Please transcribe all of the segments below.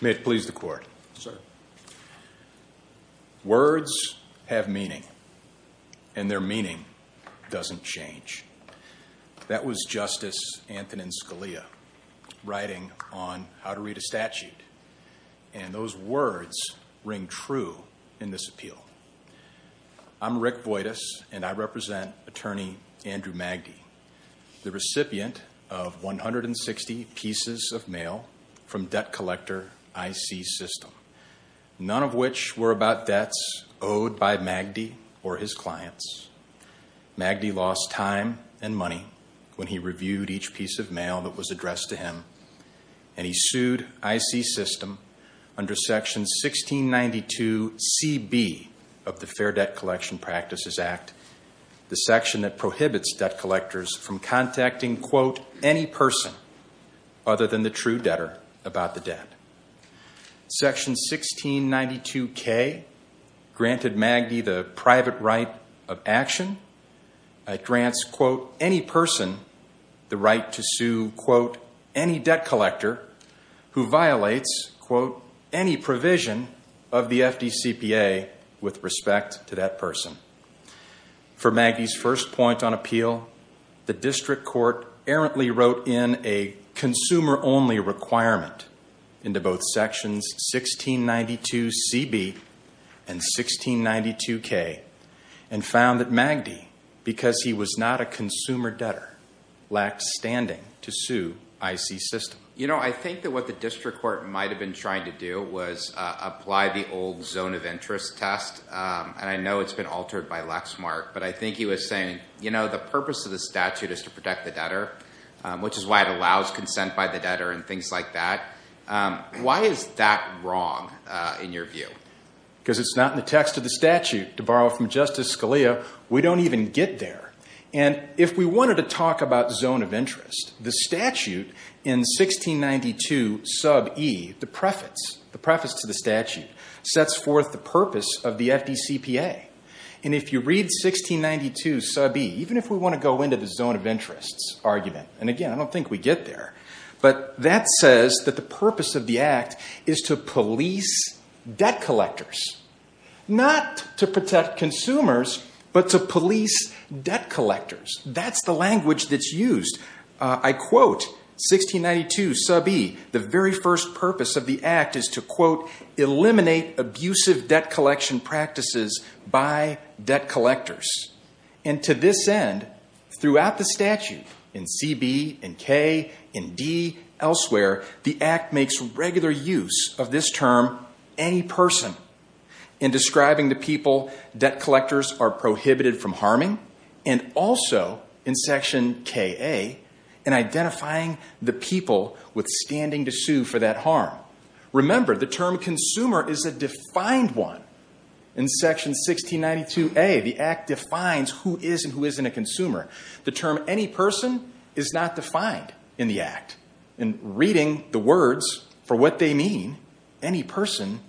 May it please the Court. Sir. Words have meaning and their meaning doesn't change. That was Justice Anthonin Scalia writing on how to read a statute and those words ring true in this appeal. I'm Rick Boitis and I represent Attorney Andrew Magdy, the recipient of 160 pieces of mail from debt collector I.C. System, none of which were about debts owed by Magdy or his clients. Magdy lost time and money when he reviewed each piece of mail that was addressed to him, and he sued I.C. System under Section 1692C.B. of the Fair Debt Collection Practices Act, the section that prohibits debt collectors from contacting, quote, any person other than the true debtor about the debt. Section 1692K granted Magdy the private right of action. It grants, quote, any person the right to of the FDCPA with respect to that person. For Magdy's first point on appeal, the district court errantly wrote in a consumer-only requirement into both Sections 1692C.B. and 1692K and found that Magdy, because he was not a consumer debtor, lacked standing to sue I.C. System. You know, I think that what the district court might have been trying to do was apply the old zone of interest test, and I know it's been altered by Lexmark, but I think he was saying, you know, the purpose of the statute is to protect the debtor, which is why it allows consent by the debtor and things like that. Why is that wrong, in your view? Because it's not in the text of the statute, to borrow from Justice Scalia. We don't even get there. And if we wanted to talk about zone of interest, the statute in 1692E, the preface to the statute, sets forth the purpose of the FDCPA. And if you read 1692E, even if we want to go into the zone of interest argument, and again, I don't think we get there, but that says that the purpose of the Act is to police debt collectors, not to protect debt collectors. That's the language that's used. I quote 1692E, the very first purpose of the Act is to, quote, eliminate abusive debt collection practices by debt collectors. And to this end, throughout the statute, in CB, in K, in D, elsewhere, the Act makes regular use of this term, any person. In describing the people, debt collectors are prohibited from harming. And also, in section KA, in identifying the people with standing to sue for that harm. Remember, the term consumer is a defined one. In section 1692A, the Act defines who is and who isn't a consumer. The term any person is not defined in the Act. In reading the words for what they mean, any person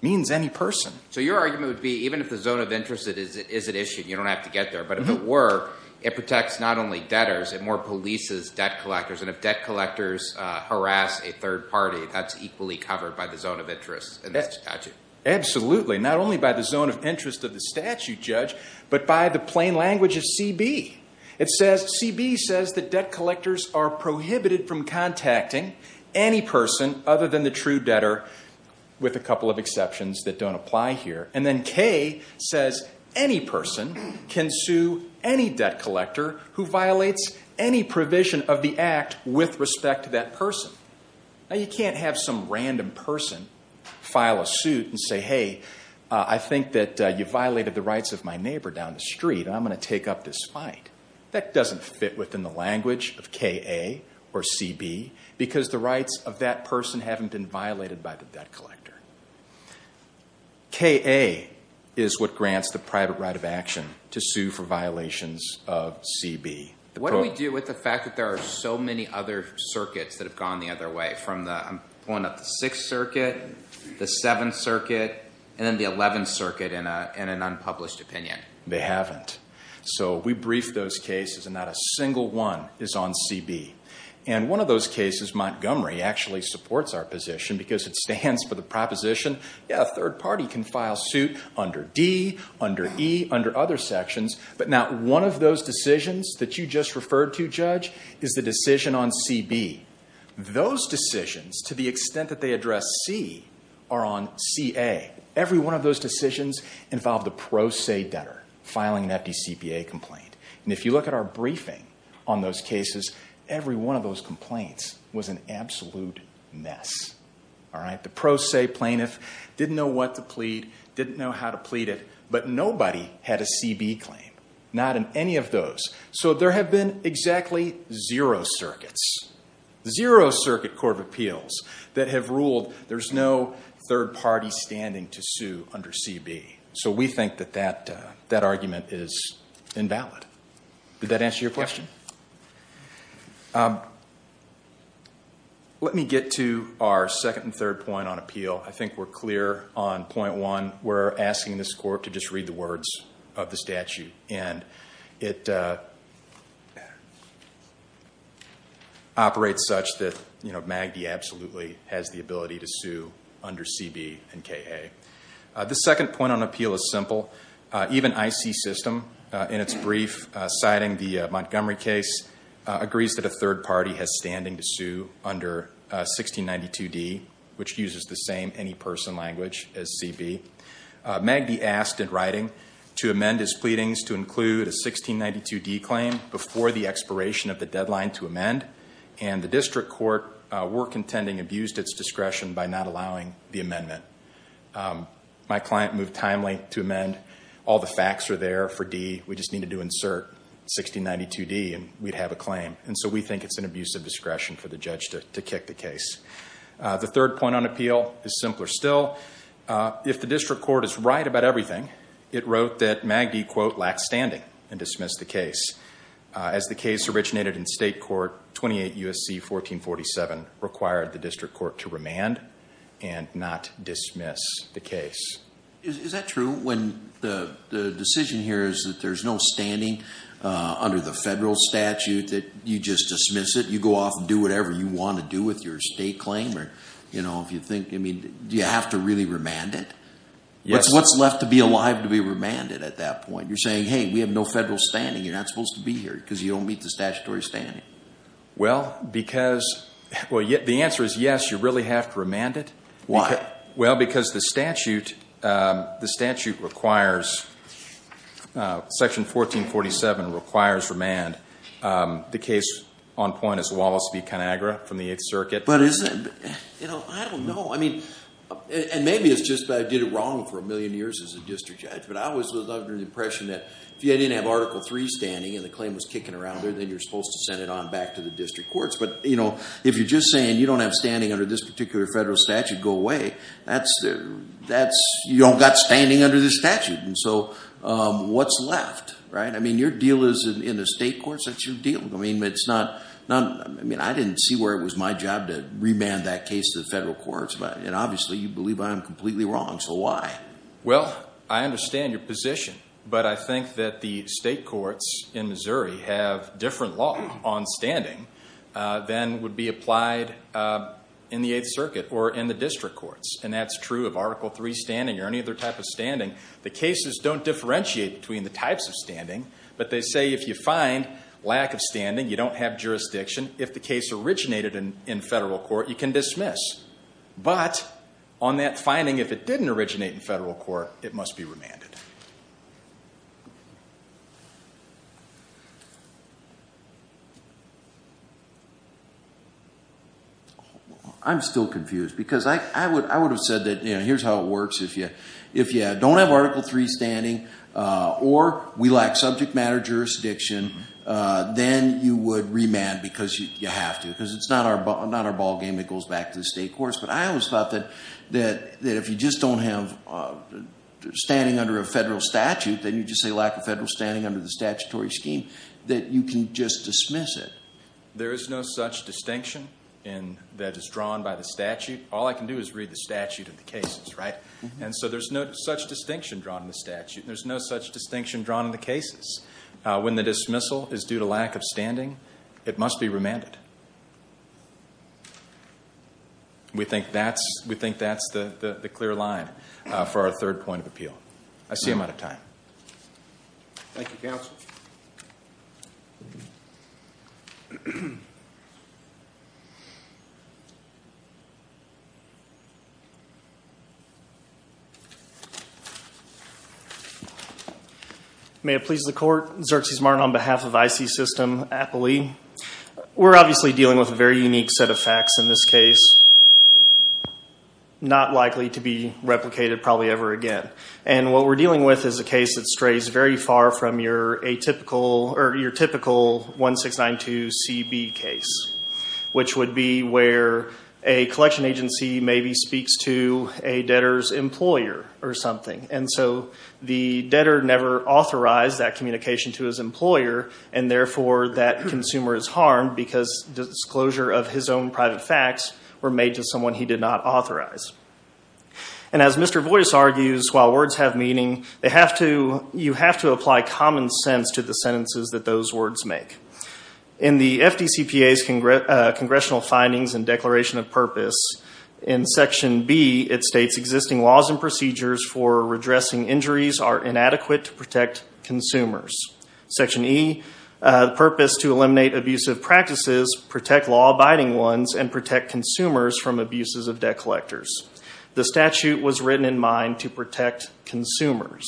means any person. So your argument would be, even if the zone of interest isn't issued, you don't have to get there. But if it were, it protects not only debtors, it more polices debt collectors. And if debt collectors harass a third party, that's equally covered by the zone of interest in this statute. Absolutely. Not only by the zone of interest of the statute, Judge, but by the plain language of CB. It says, CB says that debt collectors are prohibited from contacting any person, other than the true debtor, with a couple of exceptions that don't apply here. And then K says, any person can sue any debt collector who violates any provision of the Act with respect to that person. Now you can't have some random person file a suit and say, hey, I think that you violated the rights of my neighbor down the street. I'm going to take up this fight. That doesn't fit within the language of KA or CB, because the rights of that person haven't been violated by the debt collector. KA is what grants the private right of action to sue for violations of CB. What do we do with the fact that there are so many other circuits that have gone the other way, from the, I'm pulling up the Sixth Circuit, the Seventh Circuit, and then the Eleventh Circuit in an unpublished opinion? They haven't. So we brief those cases, and not a single one is on CB. And one of those cases, Montgomery actually supports our position, because it stands for the proposition, yeah, a third party can file suit under D, under E, under other sections, but not one of those decisions that you just referred to, Judge, is the decision on CB. Those decisions, to the extent that they address C, are on CA. Every one of those decisions involve the pro se debtor filing an empty CPA complaint. And if you look at our briefing on those cases, every one of those complaints was an absolute mess. All right? The pro se plaintiff didn't know what to plead, didn't know how to plead it, but nobody had a CB claim. Not in any of those. So there have been exactly zero circuits, zero circuit court of appeals that have ruled there's no third party standing to sue under CB. So we think that that argument is invalid. Did that answer your question? Let me get to our second and third point on appeal. I think we're clear on point one. We're asking this court to just read the words of the statute. And it operates such that you know, Magdy absolutely has the ability to sue under CB and KA. The second point on the CB system, in its brief, citing the Montgomery case, agrees that a third party has standing to sue under 1692D, which uses the same any person language as CB. Magdy asked in writing to amend his pleadings to include a 1692D claim before the expiration of the deadline to amend. And the district court were contending abused its discretion by not allowing the error for D. We just needed to insert 1692D and we'd have a claim. And so we think it's an abuse of discretion for the judge to kick the case. The third point on appeal is simpler still. If the district court is right about everything, it wrote that Magdy, quote, lacked standing and dismissed the case. As the case originated in state court, 28 U.S.C. 1447 required the district court to remand and not dismiss the case. Is that true when the decision here is that there's no standing under the federal statute that you just dismiss it? You go off and do whatever you want to do with your state claim? Or, you know, if you think, I mean, do you have to really remand it? What's left to be alive to be remanded at that point? You're saying, hey, we have no federal standing. You're not supposed to be here because you don't meet the statutory standing. Well, because, well, the answer is yes, you really have to remand it. Why? Well, because the statute, the statute requires, Section 1447 requires remand. The case on point is Wallace v. Conagra from the 8th Circuit. But isn't, I don't know, I mean, and maybe it's just that I did it wrong for a million years as a district judge, but I always lived under the impression that if you didn't have Article III standing and the claim was kicking around there, then you're supposed to send it on back to the district courts. But, you know, if you're just saying you don't have your federal statute go away, that's, you don't got standing under the statute. And so what's left, right? I mean, your deal is in the state courts. That's your deal. I mean, it's not, I mean, I didn't see where it was my job to remand that case to the federal courts. But, you know, obviously you believe I'm completely wrong. So why? Well, I understand your position. But I think that the state courts in Missouri have different law on standing than would be applied in the 8th Circuit or in the district courts. And that's true of Article III standing or any other type of standing. The cases don't differentiate between the types of standing. But they say if you find lack of standing, you don't have jurisdiction, if the case originated in federal court, you can dismiss. But on that finding, if it didn't originate in federal court, it must be remanded. I'm still confused. Because I would have said that, you know, here's how it works. If you don't have Article III standing or we lack subject matter jurisdiction, then you would remand because you have to. Because it's not our ballgame. It goes back to the state courts. But I always thought that if you just don't have standing under a federal statute, then you just say lack of federal standing under the statutory scheme, that you can just dismiss it. There is no such distinction that is drawn by the statute. All I can do is read the statute and the cases, right? And so there's no such distinction drawn in the statute. There's no such distinction drawn in the cases. When the dismissal is due to lack of standing, it must be remanded. We think that's the clear line for our third point of appeal. I see I'm out of time. May it please the Court, Xerces Martin on behalf of IC System, Appley. We're obviously dealing with a very unique set of facts in this case, not likely to be replicated probably ever again. And what we're dealing with is a case that strays very far from your typical 1692CB case, which would be where a collection agency maybe speaks to a debtor's employer or something. And so the debtor never authorized that communication to his employer, and therefore that consumer is harmed because disclosure of his own private facts were made to someone he did not authorize. And as Mr. Boyce argues, while words have meaning, you have to apply common sense to the sentences that those words make. In the FDCPA's Congressional Findings and Declaration of Purpose, in Section B, it states existing laws and procedures for redressing injuries are inadequate to protect consumers. Section E, the purpose to eliminate abusive practices, protect law-abiding ones, and protect consumers from abuses of debt collectors. The statute was written in mind to protect consumers.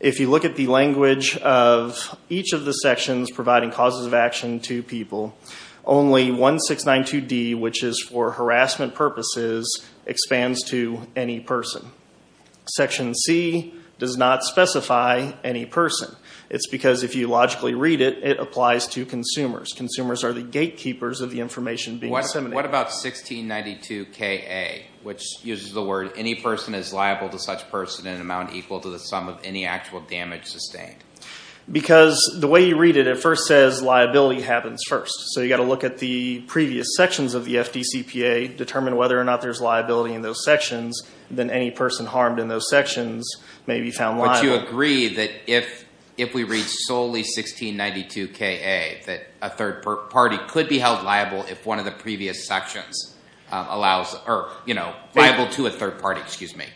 If you look at the language of each of the sections providing causes of action to people, only 1692D, which is for harassment purposes, expands to any person. Section C does not specify any person. It's the gatekeepers of the information being disseminated. What about 1692KA, which uses the word, any person is liable to such person in an amount equal to the sum of any actual damage sustained? Because the way you read it, it first says liability happens first. So you've got to look at the previous sections of the FDCPA, determine whether or not there's liability in those sections, then any person harmed in those sections may be found liable. But you agree that if we read solely 1692KA, that a third party could be held liable if one of the previous sections allows, or liable to a third party, excuse me.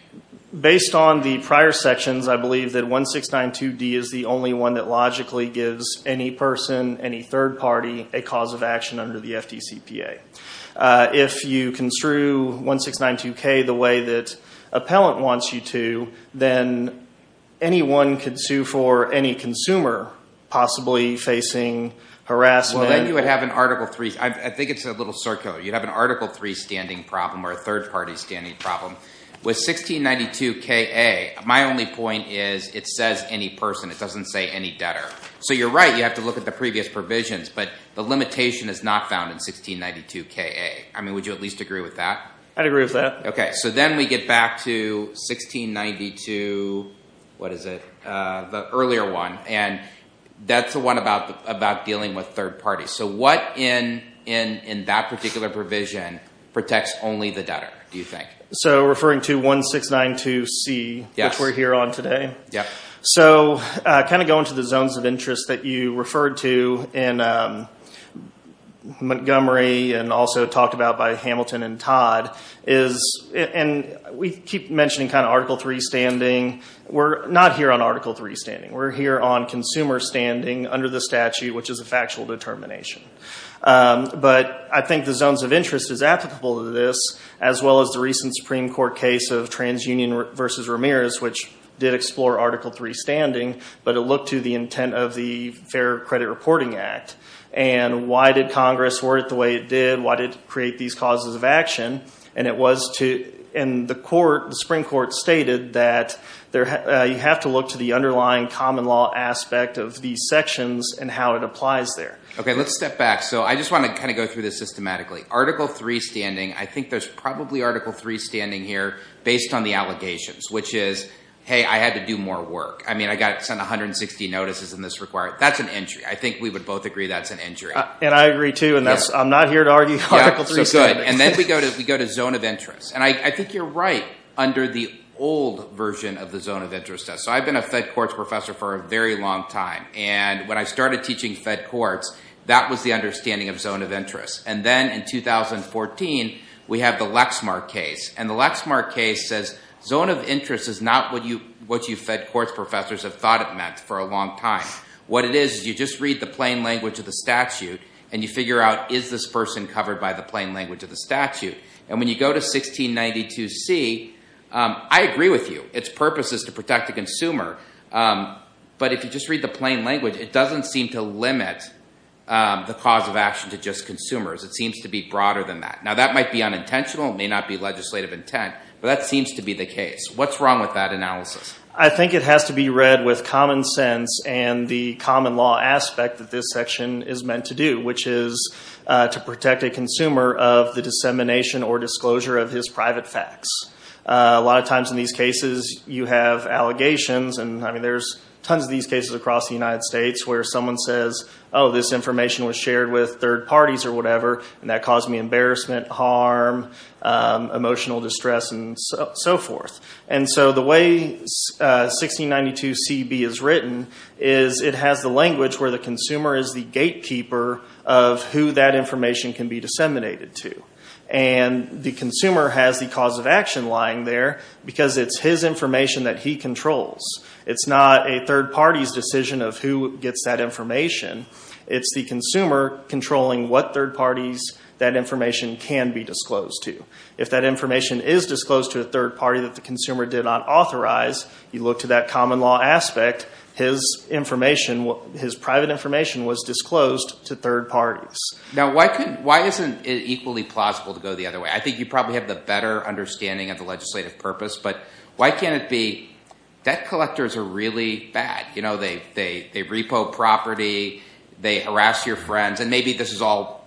Based on the prior sections, I believe that 1692D is the only one that logically gives any person, any third party, a cause of action under the FDCPA. If you construe 1692K the way that appellant wants you to, then anyone can sue for any consumer possibly facing harassment. Well, then you would have an Article 3, I think it's a little circular. You'd have an Article 3 standing problem or a third party standing problem. With 1692KA, my only point is it says any person. It doesn't say any debtor. So you're right, you have to look at the previous provisions, but the limitation is not found in 1692KA. I mean, would you at least agree with that? I'd agree with that. Okay, so then we get back to 1692, what is it, the earlier one, and that's the one about dealing with third parties. So what in that particular provision protects only the debtor, do you think? So referring to 1692C, which we're here on today. So kind of going to the zones of interest that you referred to in Montgomery and also talked about by Hamilton and Todd, is the we keep mentioning kind of Article 3 standing. We're not here on Article 3 standing. We're here on consumer standing under the statute, which is a factual determination. But I think the zones of interest is applicable to this, as well as the recent Supreme Court case of TransUnion versus Ramirez, which did explore Article 3 standing, but it looked to the intent of the Fair Credit Reporting Act. And why did Congress word it the way it did? Why did it and the court, the Supreme Court stated that you have to look to the underlying common law aspect of these sections and how it applies there. Okay, let's step back. So I just want to kind of go through this systematically. Article 3 standing, I think there's probably Article 3 standing here based on the allegations, which is, hey, I had to do more work. I mean, I got to send 160 notices in this requirement. That's an injury. I think we would both agree that's an injury. And I agree too, and I'm not here to argue Article 3 standing. And then we go to zone of interest. And I think you're right under the old version of the zone of interest test. So I've been a fed courts professor for a very long time. And when I started teaching fed courts, that was the understanding of zone of interest. And then in 2014, we have the Lexmark case. And the Lexmark case says zone of interest is not what you fed courts professors have thought it meant for a long time. What it is, is you just read the plain language of the statute and you figure out, is this person covered by the plain language of the statute? And when you go to 1692c, I agree with you. Its purpose is to protect the consumer. But if you just read the plain language, it doesn't seem to limit the cause of action to just consumers. It seems to be broader than that. Now, that might be unintentional. It may not be legislative intent. But that seems to be the case. What's wrong with that analysis? I think it has to be read with common sense and the common law aspect that this section is meant to do, which is to protect a consumer of the dissemination or disclosure of his private facts. A lot of times in these cases, you have allegations. And I mean, there's tons of these cases across the United States where someone says, oh, this information was shared with third parties or whatever, and that caused me embarrassment, harm, emotional distress, and so forth. And so the way 1692cb is written is it has the language where the consumer is the gatekeeper of who that information can be disseminated to. And the consumer has the cause of action lying there because it's his information that he controls. It's not a third party's decision of who gets that information. It's the consumer controlling what third parties that information can be disclosed to. If that information is disclosed to a third party that the consumer did not authorize, you look to that common law aspect, his information, his private information was disclosed to third parties. Now why isn't it equally plausible to go the other way? I think you probably have the better understanding of the legislative purpose. But why can't it be debt collectors are really bad? They repo property. They harass your friends. And maybe this is all,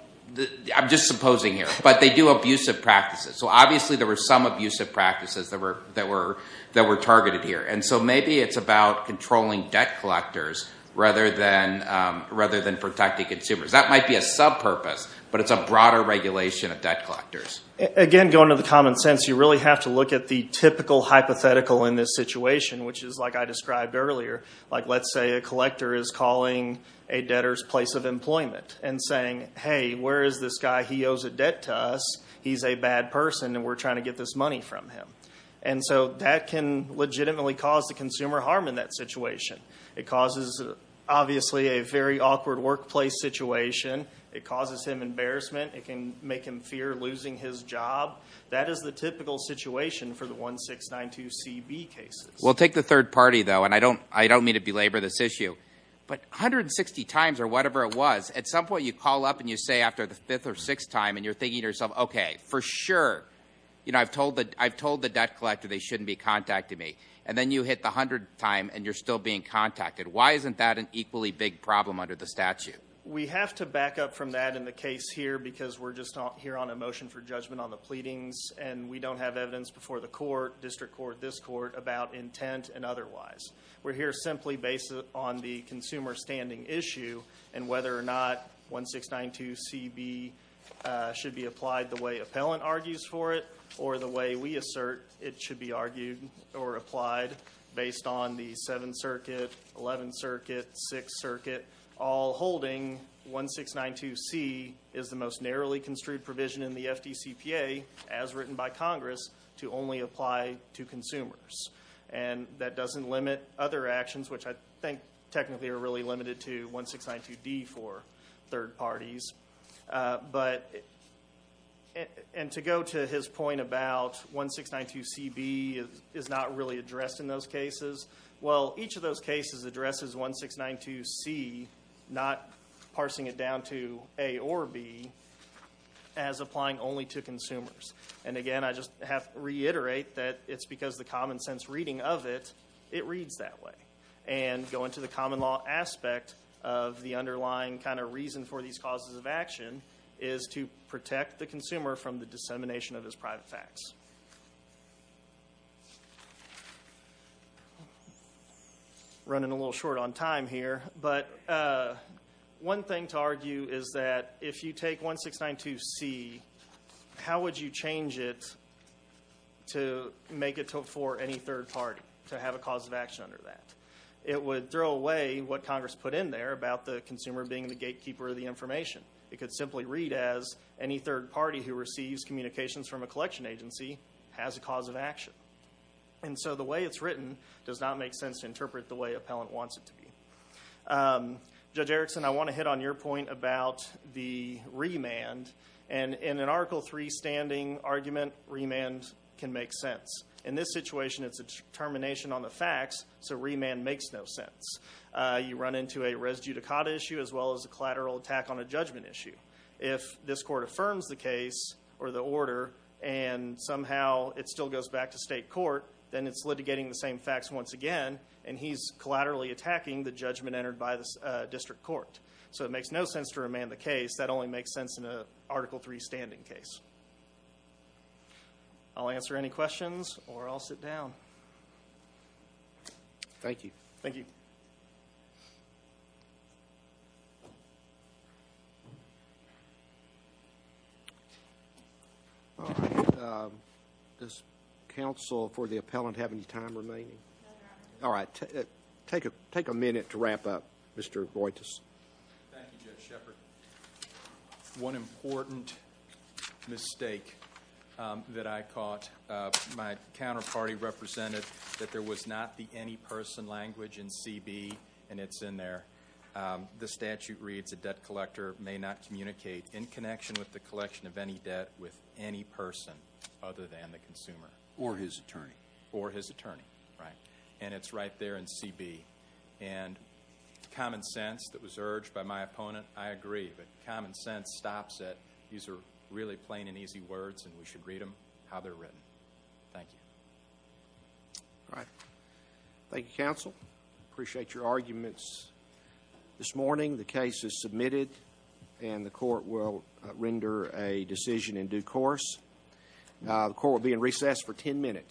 I'm just supposing here, but they do abusive practices. So obviously there were some abusive practices that were targeted here. And so maybe it's about controlling debt collectors rather than protecting consumers. That might be a sub-purpose, but it's a broader regulation of debt collectors. Again going to the common sense, you really have to look at the typical hypothetical in this situation, which is like I described earlier. Like let's say a collector is calling a debtor's place of employment and saying, hey, where is this guy? He owes a debt to us. He's a bad person and we're trying to get this money from him. And so that can legitimately cause the consumer harm in that situation. It causes obviously a very awkward workplace situation. It causes him embarrassment. It can make him fear losing his job. That is the typical situation for the 1692CB cases. We'll take the third party though, and I don't mean to belabor this issue, but 160 times or whatever it was, at some point you call up and you say after the fifth or sixth time and you're thinking to yourself, okay, for sure, I've told the debt collector they shouldn't be contacting me. And then you hit the hundredth time and you're still being contacted. Why isn't that an equally big problem under the statute? We have to back up from that in the case here because we're just here on a motion for judgment on the pleadings. And we don't have evidence before the court, district court, this court about intent and otherwise. We're here simply based on the consumer standing issue and whether or not 1692CB should be applied the way appellant argues for it or the way we assert it should be argued or applied based on the 7th Circuit, 11th Circuit, 6th Circuit, all holding 1692C is the most narrowly construed provision in the FDCPA as written by Congress to only apply to consumers. And that doesn't limit other actions, which I think technically are really limited to 1692D for third parties. And to go to his point about 1692CB is not really addressed in those cases, well, each of those cases addresses 1692C, not parsing it down to A or B as applying only to consumers. And again, I just have to reiterate that it's because the common sense reading of it, it reads that way. And going to the common law aspect of the underlying kind of reason for these causes of action is to protect the consumer from the dissemination of his private facts. Running a little short on time here, but one thing to argue is that if you take 1692C, how would you change it to make it for any third party to have a cause of action under that? It would throw away what Congress put in there about the consumer being the gatekeeper of the information. It could simply read as any third party who receives communications from a collection agency has a cause of action. And so the way it's written does not make sense to interpret the way appellant wants it to be. Judge Erickson, I want to hit on your point about the remand. And in an Article 3 standing argument, remand can make sense. In this situation, it's a determination on the facts, so remand makes no sense. You run into a res judicata issue as well as a collateral attack on a judgment issue. If this court affirms the case or the order and somehow it still goes back to state court, then it's litigating the same facts once again and he's collaterally attacking the judgment entered by the district court. So it makes no sense to remand the case. That only makes sense in an Article 3 standing case. I'll answer any questions or I'll sit down. Thank you. Does counsel for the appellant have any time to take a minute to wrap up, Mr. Voigtas? Thank you, Judge Shepard. One important mistake that I caught, my counterparty represented that there was not the any person language in C.B. and it's in there. The statute reads a debt collector may not communicate in connection with the collection of any debt with any person other than the consumer. Or his attorney. Right. And it's right there in C.B. And common sense that was urged by my opponent, I agree, but common sense stops it. These are really plain and easy words and we should read them how they're written. Thank you. Thank you, counsel. Appreciate your arguments. This morning, the case is submitted and the court will render a decision in due course. The court will be in